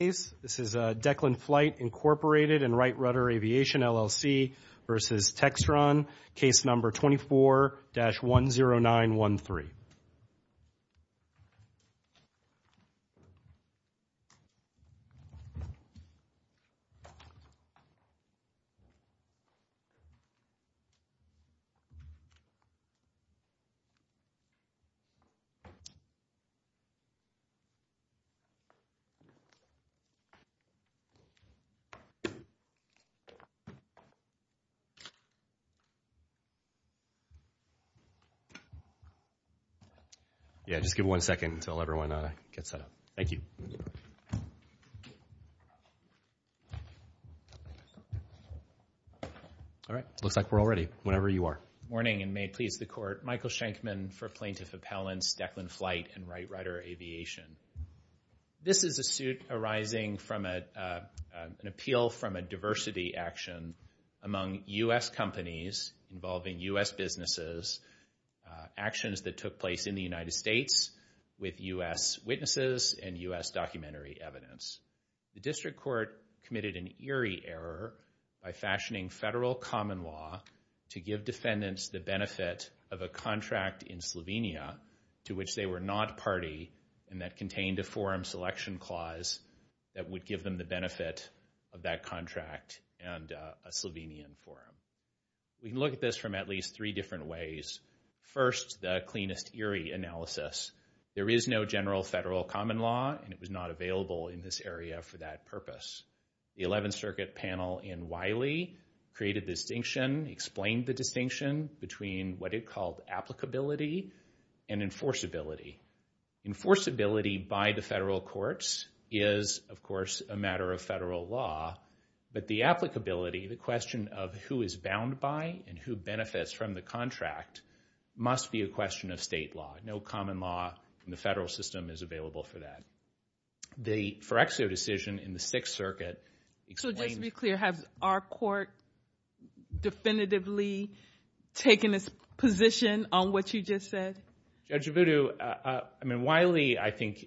Declan Flight, Inc., Wright Rutter Aviation, LLC v. Textron Morning, and may it please the Court. Michael Schenkman for Plaintiff Appellants, Declan Flight, and Wright Rutter Aviation. This is a suit arising from an appeal from a diversity action among U.S. companies involving U.S. businesses, actions that took place in the United States with U.S. witnesses and U.S. documentary evidence. The District Court committed an eerie error by fashioning federal common law to give defendants the benefit of a contract in Slovenia to which they were not a party and that contained a forum selection clause that would give them the benefit of that contract and a Slovenian forum. We can look at this from at least three different ways. First, the cleanest eerie analysis. There is no general federal common law and it was not available in this area for that purpose. The 11th Circuit panel in Wiley created the distinction, explained the distinction between what it called applicability and enforceability. Enforceability by the federal courts is, of course, a matter of federal law, but the applicability, the question of who is bound by and who benefits from the contract must be a question of state law. No common law in the federal system is available for that. The Fereccio decision in the Sixth Circuit So just to be clear, has our court definitively taken a position on what you just said? Judge Voodoo, I mean, Wiley, I think,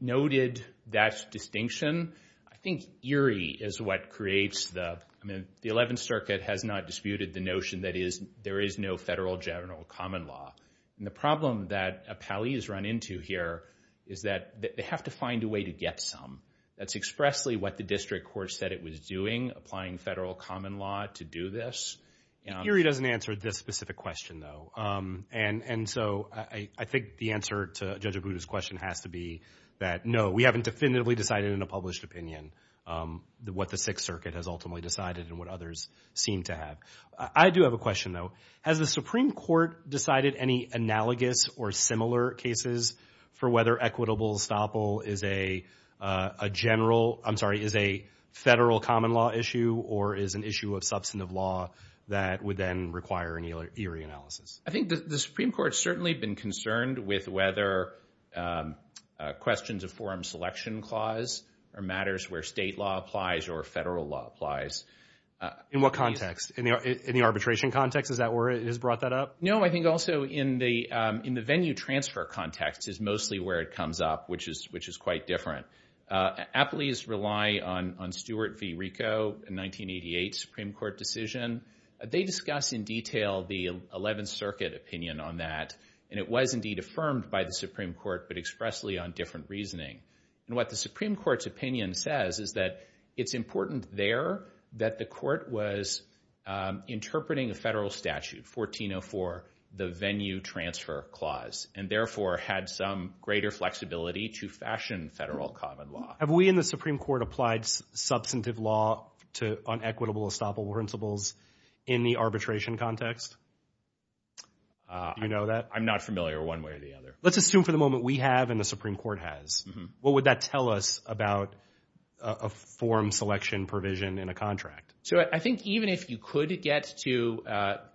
noted that distinction. I think eerie is what creates the, I mean, the 11th Circuit has not disputed the notion that there is no federal general common law. And the problem that appellees run into here is that they have to find a way to get some. That's expressly what the district court said it was doing, applying federal common law to do this. The eerie doesn't answer this specific question, though. And so I think the answer to Judge Voodoo's question has to be that, no, we haven't definitively decided in a published opinion what the Sixth Circuit has ultimately decided and what others seem to have. I do have a question, though. Has the Supreme Court decided any analogous or similar cases for whether equitable estoppel is a general, I'm sorry, is a federal common law issue or is an issue of substantive law that would then require an eerie analysis? I think the Supreme Court's certainly been concerned with whether questions of forum selection clause are matters where state law applies or federal law applies. In what context? In the arbitration context? Is that where it has brought that up? No, I think also in the venue transfer context is mostly where it comes up, which is quite different. Appellees rely on Stewart v. Rico, a 1988 Supreme Court decision. They discuss in detail the Eleventh Circuit opinion on that, and it was indeed affirmed by the Supreme Court but expressly on different reasoning. And what the Supreme Court's opinion says is that it's important there that the court was interpreting a federal statute, 1404, the venue transfer clause, and therefore had some greater flexibility to fashion federal common law. Have we in the Supreme Court applied substantive law to unequitable estoppel principles in the arbitration context? Do you know that? I'm not familiar one way or the other. Let's assume for the moment we have and the Supreme Court has. What would that tell us about a form selection provision in a contract? So I think even if you could get to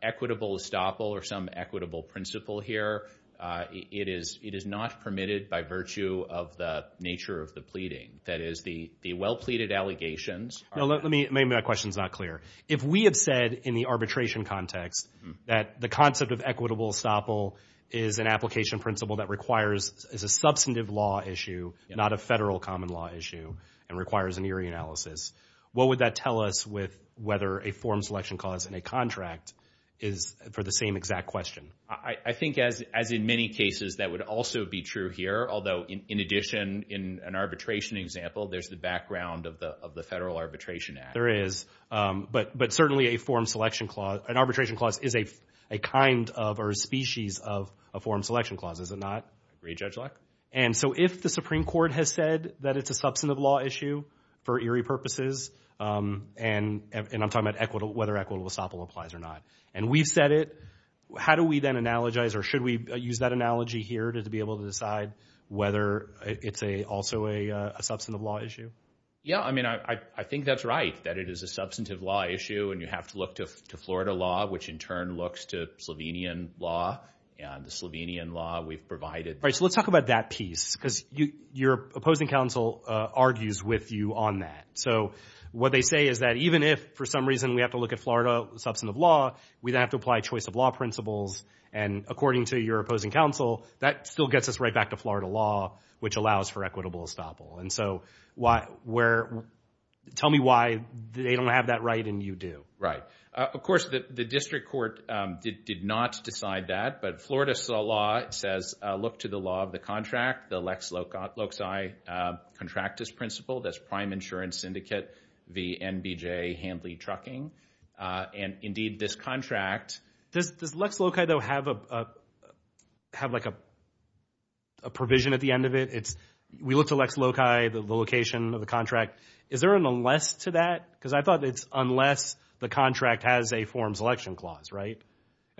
equitable estoppel or some equitable principle here, it is not permitted by virtue of the nature of the pleading. That is, the well-pleaded allegations are— No, let me—maybe that question's not clear. If we had said in the arbitration context that the concept of equitable estoppel is an application principle that requires—is a substantive law issue, not a federal common law issue, and requires an eerie analysis, what would that tell us with whether a form selection clause in a contract is for the same exact question? I think as in many cases, that would also be true here, although in addition, in an arbitration example, there's the background of the Federal Arbitration Act. There is, but certainly a form selection clause—an arbitration clause is a kind of or a species of a form selection clause, is it not? I agree, Judge Locke. And so if the Supreme Court has said that it's a substantive law issue for eerie purposes, and I'm talking about whether equitable estoppel applies or not, and we've said it, how do we then analogize, or should we use that analogy here to be able to decide whether it's also a substantive law issue? Yeah, I mean, I think that's right, that it is a substantive law issue, and you have to look to Florida law, which in turn looks to Slovenian law, and the Slovenian law we've provided. Right, so let's talk about that piece, because your opposing counsel argues with you on that. So what they say is that even if, for some reason, we have to look at Florida substantive law, we then have to apply choice of law principles, and according to your opposing counsel, that still gets us right back to Florida law, which allows for equitable estoppel. And so where—tell me why they don't have that right and you do. Right. Of course, the district court did not decide that, but Florida law says, look to the law of the contract, the Lex Loci contractus principle, that's prime insurance syndicate v. NBJ hand-lead trucking, and indeed, this contract— Does Lex Loci, though, have a provision at the end of it? We look to Lex Loci, the location of the contract. Is there an unless to that? Because I thought it's unless the contract has a forms election clause, right?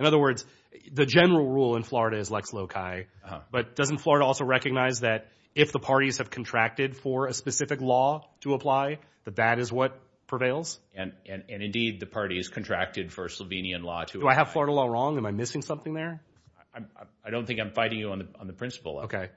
In other words, the general rule in Florida is Lex Loci, but doesn't Florida also recognize that if the parties have contracted for a specific law to apply, that that is what prevails? And indeed, the parties contracted for Slovenian law to apply. Do I have Florida law wrong? Am I missing something there? I don't think I'm fighting you on the principle of it. Okay.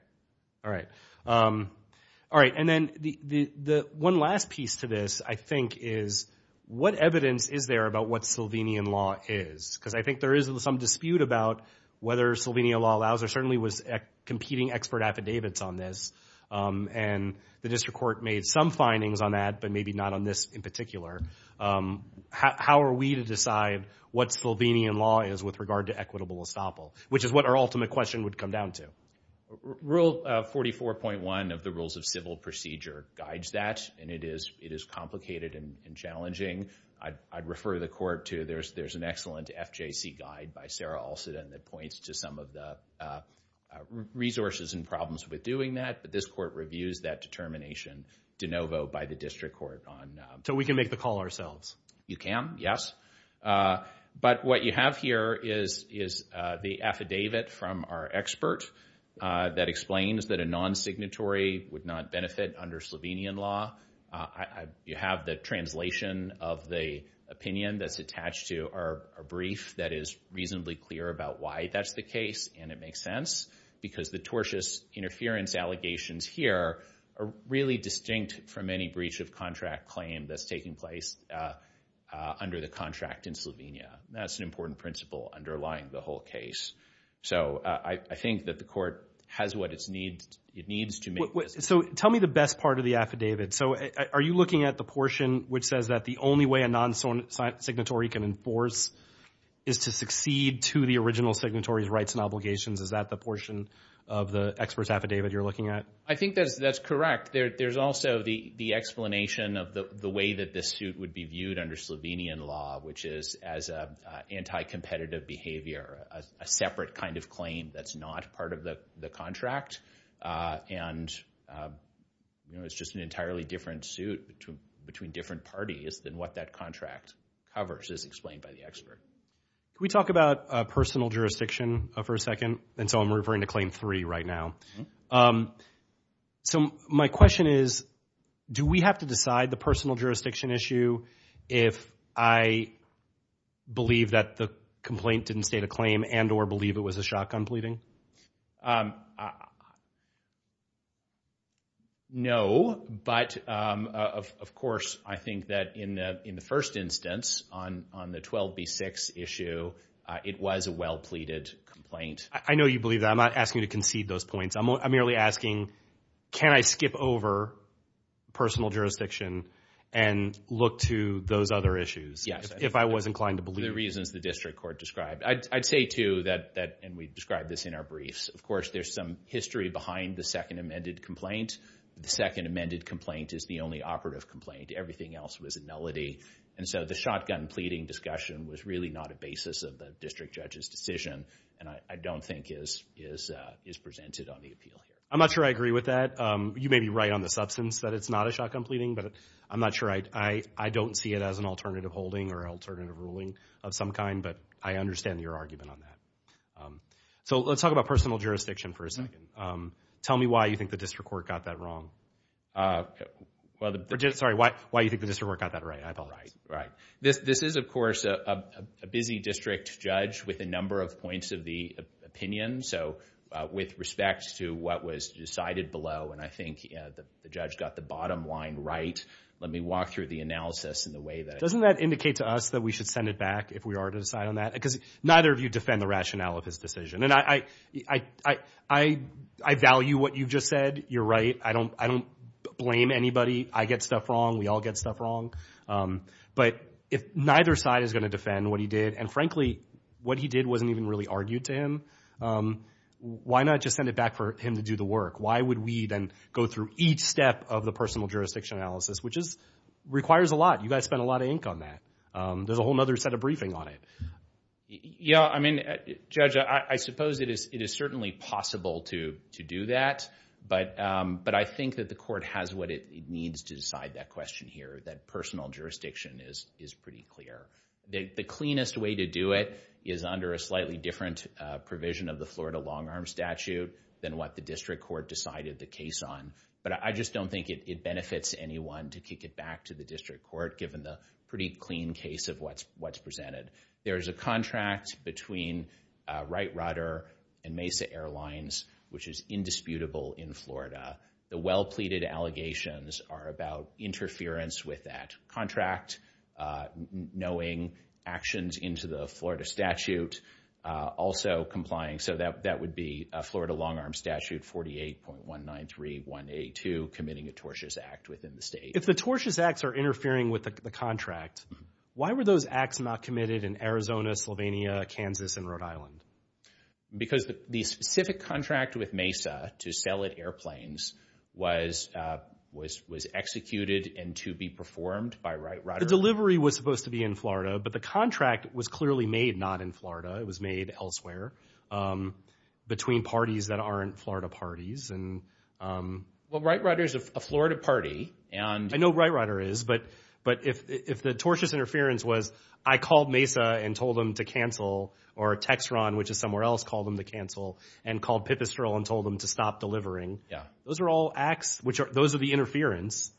All right. All right. And then the one last piece to this, I think, is what evidence is there about what Slovenian law is? Because I think there is some dispute about whether Slovenian law allows or certainly was competing expert affidavits on this, and the district court made some findings on that, but maybe not on this in particular. How are we to decide what Slovenian law is with regard to equitable estoppel? Which is what our ultimate question would come down to. Rule 44.1 of the Rules of Civil Procedure guides that, and it is complicated and challenging. I'd refer the court to, there's an excellent FJC guide by Sarah Olsidan that points to some of the resources and problems with doing that, but this court reviews that determination de novo by the district court on- So we can make the call ourselves? You can, yes. But what you have here is the affidavit from our expert that explains that a non-signatory would not benefit under Slovenian law. You have the translation of the opinion that's attached to our brief that is reasonably clear about why that's the case, and it makes sense, because the tortious interference allegations here are really distinct from any breach of contract claim that's taking place under the contract in Slovenia. That's an important principle underlying the whole case. So I think that the court has what it needs to make this- So tell me the best part of the affidavit. So are you looking at the portion which says that the only way a non-signatory can enforce is to succeed to the original signatory's rights and obligations? Is that the portion of the expert's affidavit you're looking at? I think that's correct. There's also the explanation of the way that this suit would be viewed under Slovenian law, which is as anti-competitive behavior, a separate kind of claim that's not part of the contract, and it's just an entirely different suit between different parties than what that contract covers, as explained by the expert. Can we talk about personal jurisdiction for a second? And so I'm referring to Claim 3 right now. So my question is, do we have to decide the personal jurisdiction issue if I believe that the complaint didn't state a claim and or believe it was a shotgun pleading? No, but of course, I think that in the first instance on the 12B6 issue, it was a well-pleaded complaint. I know you believe that. I'm not asking you to concede those points. I'm merely asking, can I skip over personal jurisdiction and look to those other issues if I was inclined to believe it? Yes. The reasons the district court described. I'd say, too, that, and we've described this in our briefs, of course, there's some history behind the second amended complaint. The second amended complaint is the only operative complaint. Everything else was a nullity, and so the shotgun pleading discussion was really not a basis of the district judge's decision, and I don't think is presented on the appeal here. I'm not sure I agree with that. You may be right on the substance that it's not a shotgun pleading, but I'm not sure. I don't see it as an alternative holding or alternative ruling of some kind, but I understand your argument on that. So let's talk about personal jurisdiction for a second. Tell me why you think the district court got that wrong. Sorry, why you think the district court got that right, I apologize. Right, right. This is, of course, a busy district judge with a number of points of the opinion, so with respect to what was decided below, and I think the judge got the bottom line right. Let me walk through the analysis in the way that it was. Doesn't that indicate to us that we should send it back if we are to decide on that? Because neither of you defend the rationale of his decision, and I value what you've just said. You're right. I don't blame anybody. I get stuff wrong. We all get stuff wrong. But if neither side is going to defend what he did, and frankly, what he did wasn't even really argued to him, why not just send it back for him to do the work? Why would we then go through each step of the personal jurisdiction analysis, which requires a lot. You guys spent a lot of ink on that. There's a whole other set of briefing on it. Yeah, I mean, Judge, I suppose it is certainly possible to do that, but I think that the court has what it needs to decide that question here. That personal jurisdiction is pretty clear. The cleanest way to do it is under a slightly different provision of the Florida long-arm statute than what the district court decided the case on, but I just don't think it benefits anyone to kick it back to the district court, given the pretty clean case of what's presented. There's a contract between Wright Rutter and Mesa Airlines, which is indisputable in Florida. The well-pleaded allegations are about interference with that contract, knowing actions into the Florida statute, also complying, so that would be a Florida long-arm statute 48.193182, committing a tortious act within the state. If the tortious acts are interfering with the contract, why were those acts not committed in Arizona, Slovenia, Kansas, and Rhode Island? Because the specific contract with Mesa to sell it airplanes was executed and to be performed by Wright Rutter. The delivery was supposed to be in Florida, but the contract was clearly made not in Florida. It was made elsewhere, between parties that aren't Florida parties. Well, Wright Rutter is a Florida party, and... I know Wright Rutter is, but if the tortious interference was, I called Mesa and told them to cancel, or Textron, which is somewhere else, called them to cancel, and called Pipistrel and told them to stop delivering. Those are all acts, which are, those are the interference.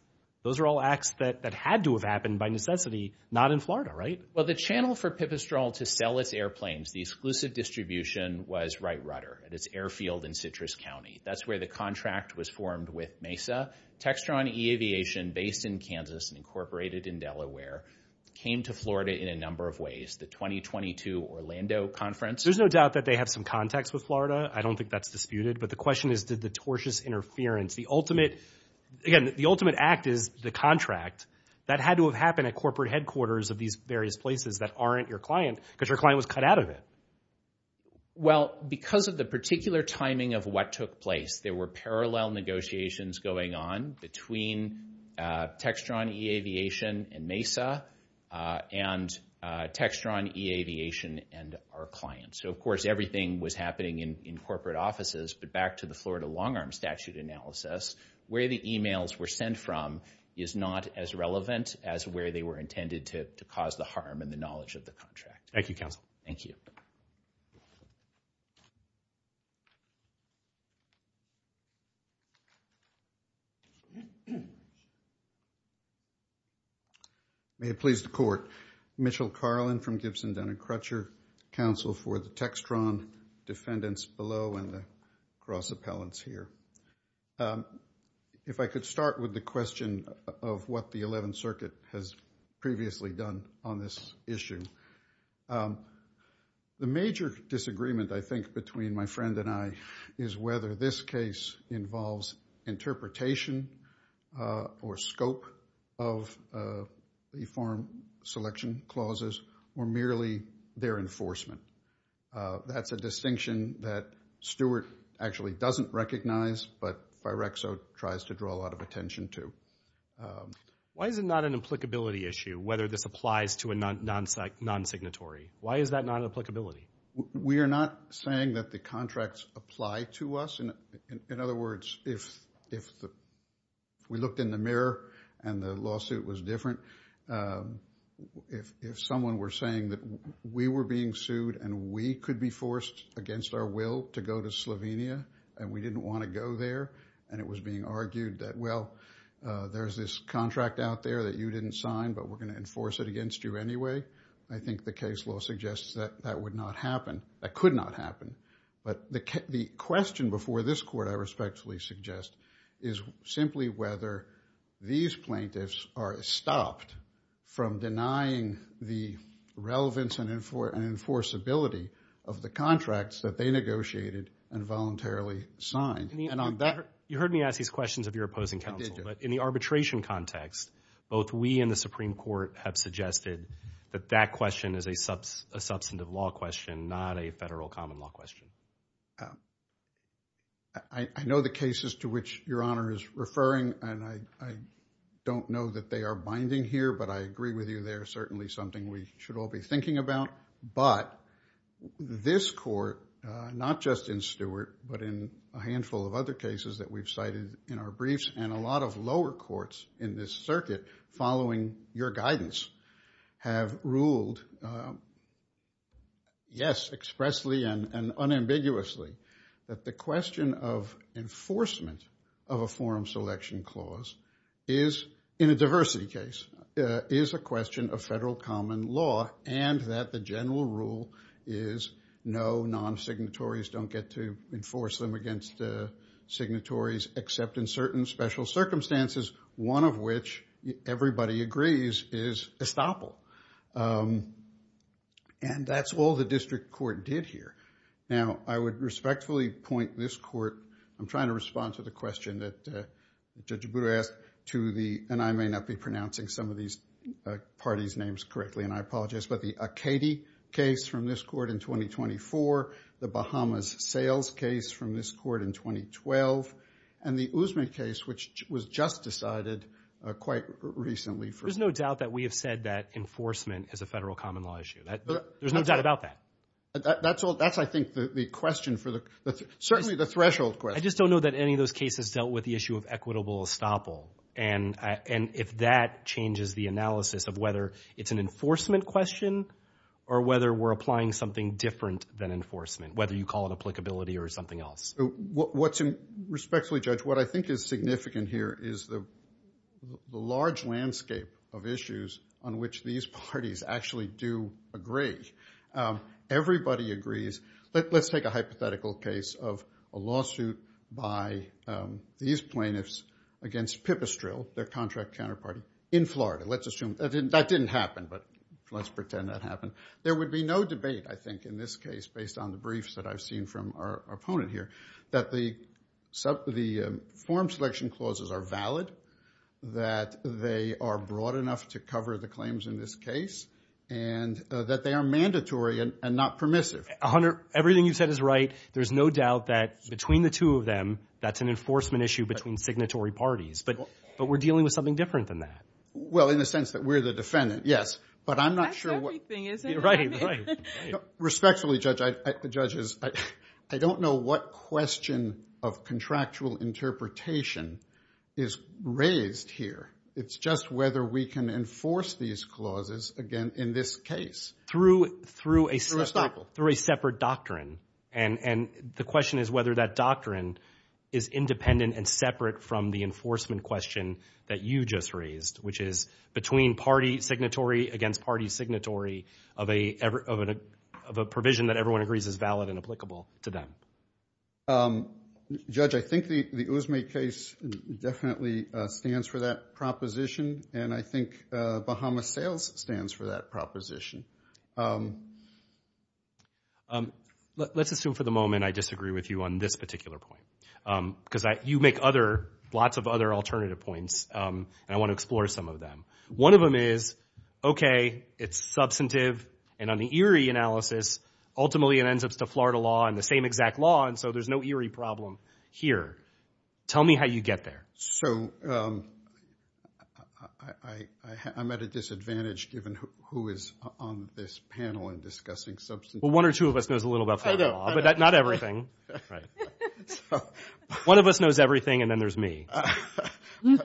Those are all acts that had to have happened by necessity, not in Florida, right? Well, the channel for Pipistrel to sell its airplanes, the exclusive distribution was Wright Rutter at its airfield in Citrus County. That's where the contract was formed with Mesa. Textron E-Aviation, based in Kansas and incorporated in Delaware, came to Florida in a number of meetings, the 2022 Orlando conference. There's no doubt that they have some contacts with Florida. I don't think that's disputed, but the question is, did the tortious interference, the ultimate, again, the ultimate act is the contract. That had to have happened at corporate headquarters of these various places that aren't your client, because your client was cut out of it. Well, because of the particular timing of what took place, there were parallel negotiations going on between Textron E-Aviation and Mesa and Textron E-Aviation and our client. So, of course, everything was happening in corporate offices, but back to the Florida long-arm statute analysis, where the emails were sent from is not as relevant as where they were intended to cause the harm and the knowledge of the contract. Thank you, counsel. Thank you. May it please the court. Mitchell Carlin from Gibson, Dun & Crutcher. Counsel for the Textron defendants below and the cross-appellants here. If I could start with the question of what the 11th Circuit has previously done on this issue. The major disagreement, I think, between my friend and I is whether this case involves interpretation or scope of the form selection clauses or merely their enforcement. That's a distinction that Stewart actually doesn't recognize, but Firexo tries to draw a lot of attention to. Why is it not an applicability issue, whether this applies to a non-signatory? Why is that not an applicability? We are not saying that the contracts apply to us. In other words, if we looked in the mirror and the lawsuit was different, if someone were saying that we were being sued and we could be forced against our will to go to There's this contract out there that you didn't sign, but we're going to enforce it against you anyway. I think the case law suggests that that would not happen, that could not happen. But the question before this court, I respectfully suggest, is simply whether these plaintiffs are stopped from denying the relevance and enforceability of the contracts that they negotiated and voluntarily signed. You heard me ask these questions of your opposing counsel, but in the arbitration context, both we and the Supreme Court have suggested that that question is a substantive law question, not a federal common law question. I know the cases to which Your Honor is referring, and I don't know that they are binding here, but I agree with you. They are certainly something we should all be thinking about. But this court, not just in Stewart, but in a handful of other cases that we've cited in our briefs, and a lot of lower courts in this circuit following your guidance, have ruled, yes, expressly and unambiguously, that the question of enforcement of a forum selection clause is, in a diversity case, is a question of federal common law, and that the general rule is no, non-signatories don't get to enforce them against signatories, except in certain special circumstances, one of which, everybody agrees, is estoppel. And that's all the district court did here. Now, I would respectfully point this court, I'm trying to respond to the question that Judge Aburo asked, to the, and I may not be pronouncing some of these parties' names correctly, and I apologize, but the Acadie case from this court in 2024, the Bahamas Sales case from this court in 2012, and the Usme case, which was just decided quite recently for- There's no doubt that we have said that enforcement is a federal common law issue. There's no doubt about that. That's I think the question for the, certainly the threshold question. I just don't know that any of those cases dealt with the issue of equitable estoppel, and if that changes the analysis of whether it's an enforcement question, or whether we're applying something different than enforcement, whether you call it applicability or something else. Respectfully, Judge, what I think is significant here is the large landscape of issues on which these parties actually do agree. Everybody agrees, let's take a hypothetical case of a lawsuit by these plaintiffs against Pipistrelle, their contract counterparty, in Florida. Let's assume that didn't happen, but let's pretend that happened. There would be no debate, I think, in this case, based on the briefs that I've seen from our opponent here, that the form selection clauses are valid, that they are broad enough to cover the claims in this case, and that they are mandatory and not permissive. Hunter, everything you've said is right. There's no doubt that between the two of them, that's an enforcement issue between signatory parties, but we're dealing with something different than that. Well, in the sense that we're the defendant, yes, but I'm not sure what- That's everything, isn't it? Right, right. Respectfully, Judge, the judges, I don't know what question of contractual interpretation is raised here. It's just whether we can enforce these clauses, again, in this case. Through a separate doctrine, and the question is whether that doctrine is independent and separate from the enforcement question that you just raised, which is between party signatory against party signatory of a provision that everyone agrees is valid and applicable to them. Judge, I think the Uzme case definitely stands for that proposition, and I think Bahama Sales stands for that proposition. Let's assume for the moment I disagree with you on this particular point, because you make lots of other alternative points, and I want to explore some of them. One of them is, okay, it's substantive, and on the Erie analysis, ultimately it ends up in accordance to Florida law and the same exact law, and so there's no Erie problem here. Tell me how you get there. I'm at a disadvantage, given who is on this panel and discussing substantive- Well, one or two of us knows a little about Florida law, but not everything. One of us knows everything, and then there's me.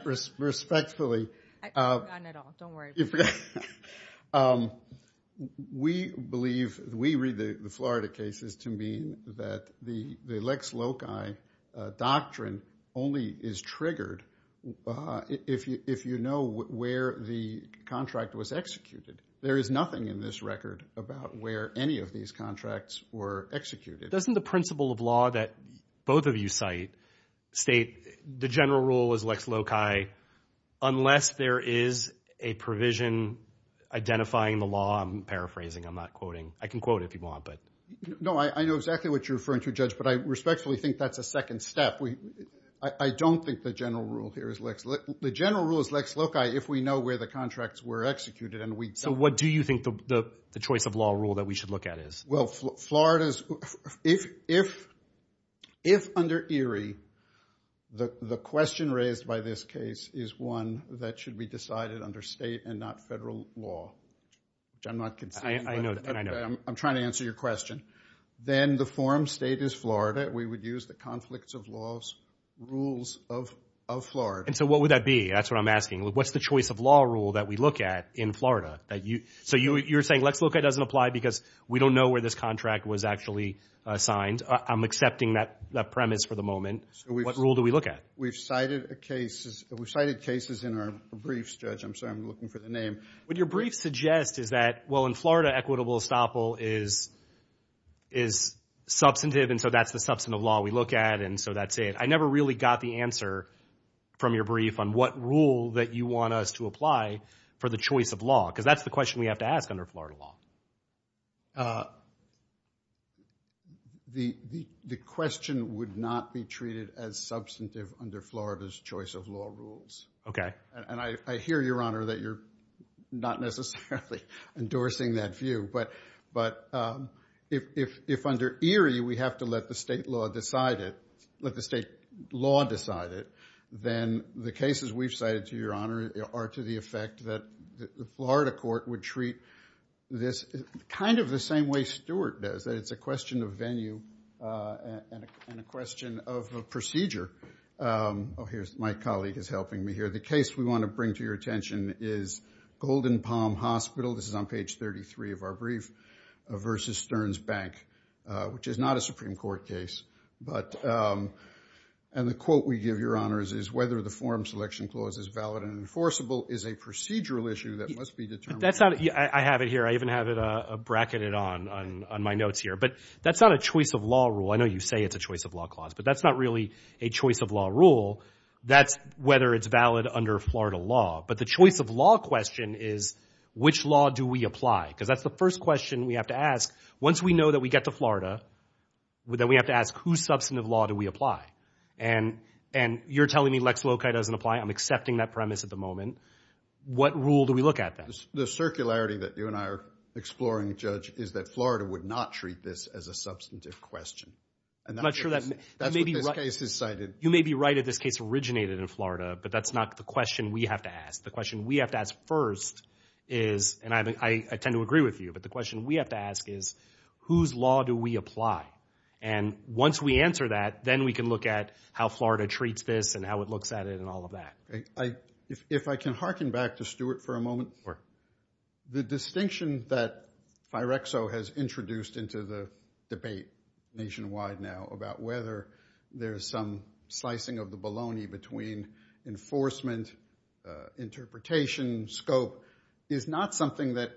Respectfully- I've forgotten it all. Don't worry about it. We believe, we read the Florida cases to mean that the Lex Loci doctrine only is triggered if you know where the contract was executed. There is nothing in this record about where any of these contracts were executed. Doesn't the principle of law that both of you cite state the general rule is Lex Loci unless there is a provision identifying the law? I'm paraphrasing. I'm not quoting. I can quote if you want, but- No, I know exactly what you're referring to, Judge, but I respectfully think that's a second step. I don't think the general rule here is Lex Loci. The general rule is Lex Loci if we know where the contracts were executed, and we- What do you think the choice of law rule that we should look at is? Well, Florida's... If under ERIE, the question raised by this case is one that should be decided under state and not federal law, which I'm not conceding- I know that. I know that. I'm trying to answer your question. Then the forum state is Florida. We would use the conflicts of laws rules of Florida. What would that be? That's what I'm asking. What's the choice of law rule that we look at in Florida that you... You're saying Lex Loci doesn't apply because we don't know where this contract was actually signed. I'm accepting that premise for the moment. What rule do we look at? We've cited cases in our briefs, Judge. I'm sorry. I'm looking for the name. What your brief suggests is that, well, in Florida, equitable estoppel is substantive, and so that's the substantive law we look at, and so that's it. I never really got the answer from your brief on what rule that you want us to apply for the choice of law, because that's the question we have to ask under Florida law. The question would not be treated as substantive under Florida's choice of law rules. I hear, Your Honor, that you're not necessarily endorsing that view, but if under Erie, we have to let the state law decide it, then the cases we've cited, Your Honor, are to the effect that the Florida court would treat this kind of the same way Stewart does. It's a question of venue and a question of procedure. My colleague is helping me here. The case we want to bring to your attention is Golden Palm Hospital. This is on page 33 of our brief, versus Stearns Bank, which is not a Supreme Court case, and the quote we give, Your Honors, is, whether the forum selection clause is valid and enforceable is a procedural issue that must be determined. I have it here. I even have it bracketed on my notes here, but that's not a choice of law rule. I know you say it's a choice of law clause, but that's not really a choice of law rule. That's whether it's valid under Florida law, but the choice of law question is, which law do we apply? Because that's the first question we have to ask. Once we know that we get to Florida, then we have to ask, whose substantive law do we You're telling me Lex Loci doesn't apply. I'm accepting that premise at the moment. What rule do we look at then? The circularity that you and I are exploring, Judge, is that Florida would not treat this as a substantive question. And that's what this case is cited. You may be right if this case originated in Florida, but that's not the question we have to ask. The question we have to ask first is, and I tend to agree with you, but the question we have to ask is, whose law do we apply? And once we answer that, then we can look at how Florida treats this and how it looks at it and all of that. If I can harken back to Stuart for a moment, the distinction that Firexo has introduced into the debate nationwide now about whether there's some slicing of the bologna between enforcement, interpretation, scope, is not something that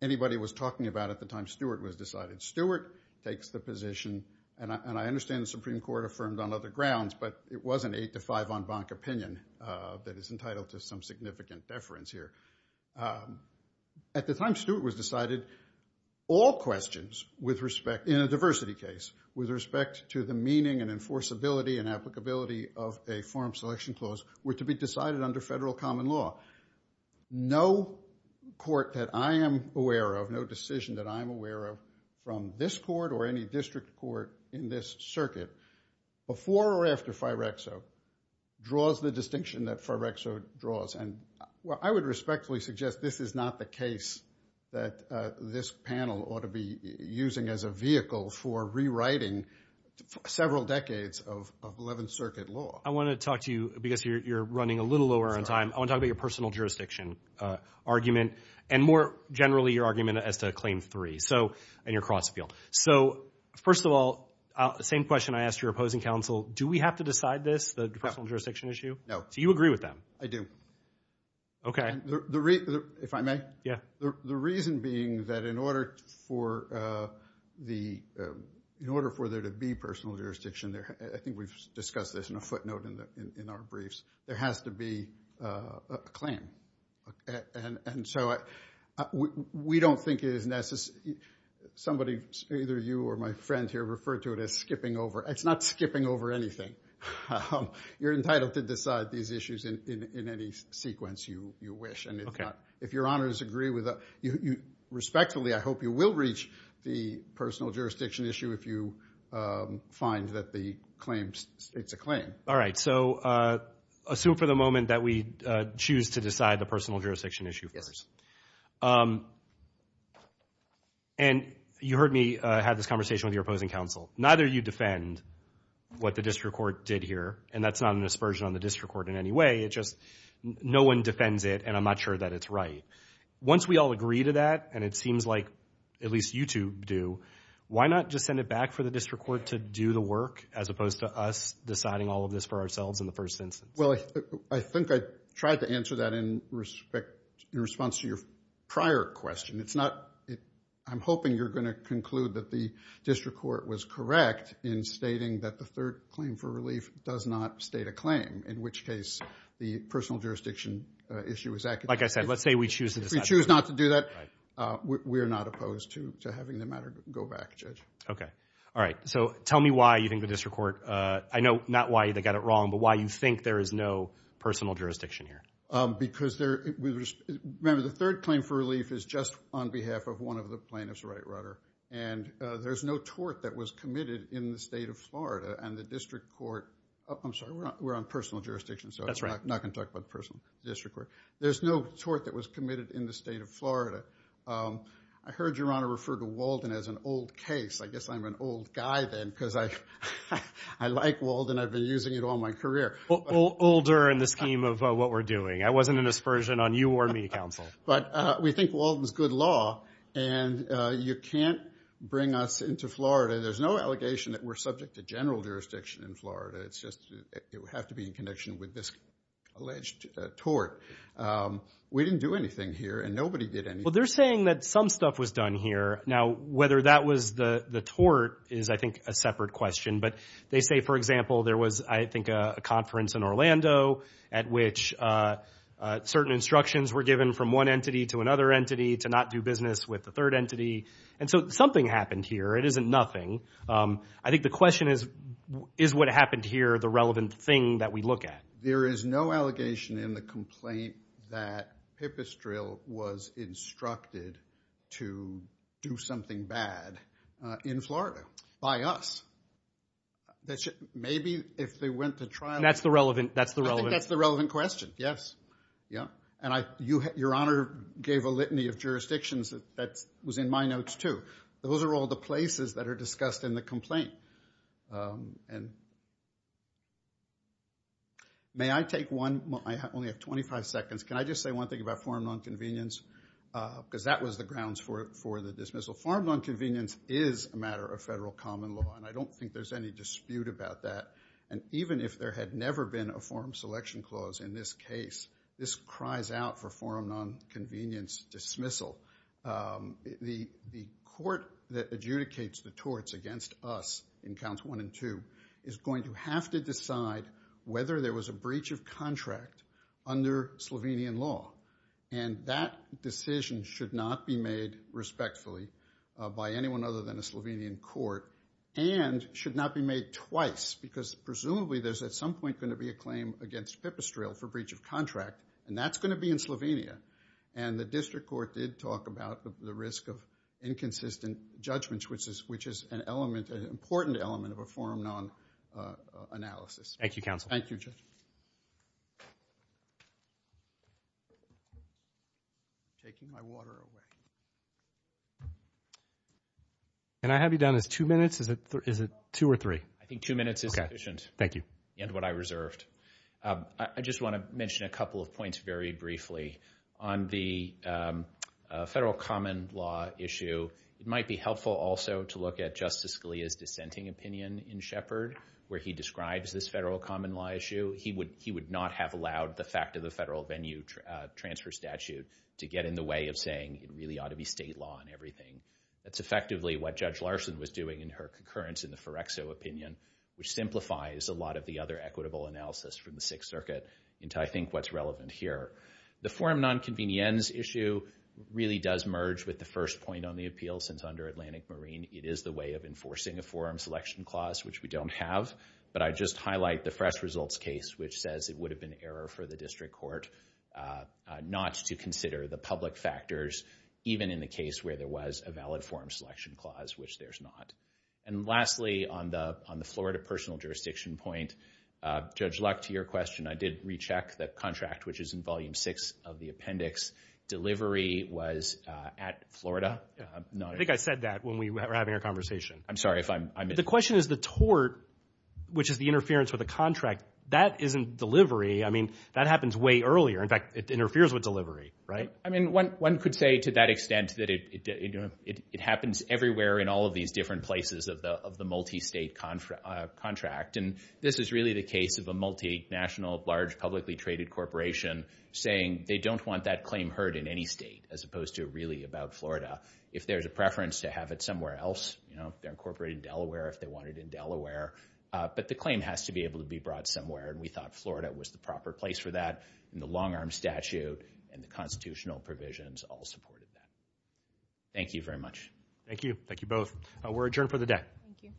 anybody was talking about at the time Stuart was decided. Stuart takes the position, and I understand the Supreme Court affirmed on other grounds, but it was an eight to five en banc opinion that is entitled to some significant deference here. At the time Stuart was decided, all questions in a diversity case with respect to the meaning and enforceability and applicability of a forum selection clause were to be decided under federal common law. No court that I am aware of, no decision that I am aware of from this court or any district court in this circuit, before or after Firexo, draws the distinction that Firexo draws. And I would respectfully suggest this is not the case that this panel ought to be using as a vehicle for rewriting several decades of Eleventh Circuit law. I want to talk to you, because you're running a little over on time, I want to talk about your personal jurisdiction argument and more generally your argument as to Claim 3 and your cross appeal. So, first of all, same question I asked your opposing counsel, do we have to decide this, the personal jurisdiction issue? No. So you agree with that? I do. Okay. If I may? Yeah. The reason being that in order for there to be personal jurisdiction, I think we've discussed this in a footnote in our briefs, there has to be a claim. And so we don't think it is necessary, somebody, either you or my friend here, referred to it as skipping over, it's not skipping over anything. You're entitled to decide these issues in any sequence you wish. If your honors agree with that, respectfully, I hope you will reach the personal jurisdiction issue if you find that the claim, it's a claim. All right. So assume for the moment that we choose to decide the personal jurisdiction issue first. And you heard me have this conversation with your opposing counsel, neither of you defend what the district court did here and that's not an aspersion on the district court in any way, it's just no one defends it and I'm not sure that it's right. Once we all agree to that, and it seems like at least you two do, why not just send it Well, I think I tried to answer that in response to your prior question, it's not, I'm hoping you're going to conclude that the district court was correct in stating that the third claim for relief does not state a claim, in which case the personal jurisdiction issue is accepted. Like I said, let's say we choose to decide. If we choose not to do that, we're not opposed to having the matter go back, Judge. Okay. All right. So tell me why you think the district court, I know not why they got it wrong, but why you think there is no personal jurisdiction here? Because there, remember the third claim for relief is just on behalf of one of the plaintiffs, right, Rutter? And there's no tort that was committed in the state of Florida and the district court, I'm sorry, we're on personal jurisdiction, so I'm not going to talk about personal, district court. There's no tort that was committed in the state of Florida. But I heard Your Honor refer to Walden as an old case. I guess I'm an old guy then, because I like Walden, I've been using it all my career. Older in the scheme of what we're doing. I wasn't an aspersion on you or me, counsel. But we think Walden's good law, and you can't bring us into Florida. There's no allegation that we're subject to general jurisdiction in Florida. It's just, it would have to be in connection with this alleged tort. We didn't do anything here, and nobody did anything. Well, they're saying that some stuff was done here. Now, whether that was the tort is, I think, a separate question. But they say, for example, there was, I think, a conference in Orlando at which certain instructions were given from one entity to another entity to not do business with the third entity. And so something happened here, it isn't nothing. I think the question is, is what happened here the relevant thing that we look at? There is no allegation in the complaint that Pipistrelle was instructed to do something bad in Florida by us. Maybe if they went to trial. And that's the relevant, that's the relevant. I think that's the relevant question, yes. Yeah. And your honor gave a litany of jurisdictions that was in my notes, too. Those are all the places that are discussed in the complaint. May I take one? I only have 25 seconds. Can I just say one thing about forum nonconvenience? Because that was the grounds for the dismissal. Forum nonconvenience is a matter of federal common law, and I don't think there's any dispute about that. And even if there had never been a forum selection clause in this case, this cries out for forum nonconvenience dismissal. The court that adjudicates the torts against us in counts one and two is going to have to decide whether there was a breach of contract under Slovenian law. And that decision should not be made respectfully by anyone other than a Slovenian court and should not be made twice. Because presumably there's at some point going to be a claim against Pipistrelle for breach of contract, and that's going to be in Slovenia. And the district court did talk about the risk of inconsistent judgments, which is an element, an important element of a forum non-analysis. Thank you, counsel. Thank you, Judge. Taking my water away. Can I have you down as two minutes? Is it two or three? I think two minutes is sufficient. Okay. Thank you. And what I reserved. I just want to mention a couple of points very briefly. On the federal common law issue, it might be helpful also to look at Justice Scalia's dissenting opinion in Shepard, where he describes this federal common law issue. He would not have allowed the fact of the federal venue transfer statute to get in the way of saying it really ought to be state law and everything. That's effectively what Judge Larson was doing in her concurrence in the Ferrexo opinion, which simplifies a lot of the other equitable analysis from the Sixth Circuit into, I think, what's relevant here. The forum non-convenience issue really does merge with the first point on the appeal since under Atlantic Marine, it is the way of enforcing a forum selection clause, which we don't have. But I just highlight the fresh results case, which says it would have been error for the district court not to consider the public factors, even in the case where there was a valid forum selection clause, which there's not. And lastly, on the Florida personal jurisdiction point, Judge Luck, to your question, I did recheck the contract, which is in volume six of the appendix. Delivery was at Florida. I think I said that when we were having our conversation. I'm sorry if I'm... The question is the tort, which is the interference with the contract. That isn't delivery. I mean, that happens way earlier. In fact, it interferes with delivery, right? I mean, one could say to that extent that it happens everywhere in all of these different places of the multi-state contract. And this is really the case of a multi-national, large, publicly traded corporation saying they don't want that claim heard in any state, as opposed to really about Florida. If there's a preference to have it somewhere else, you know, if they're incorporated in Delaware, if they want it in Delaware, but the claim has to be able to be brought somewhere. And we thought Florida was the proper place for that in the long-arm statute and the constitutional provisions all supported that. Thank you very much. Thank you. Thank you both. We're adjourned for the day. Thank you. Thank you.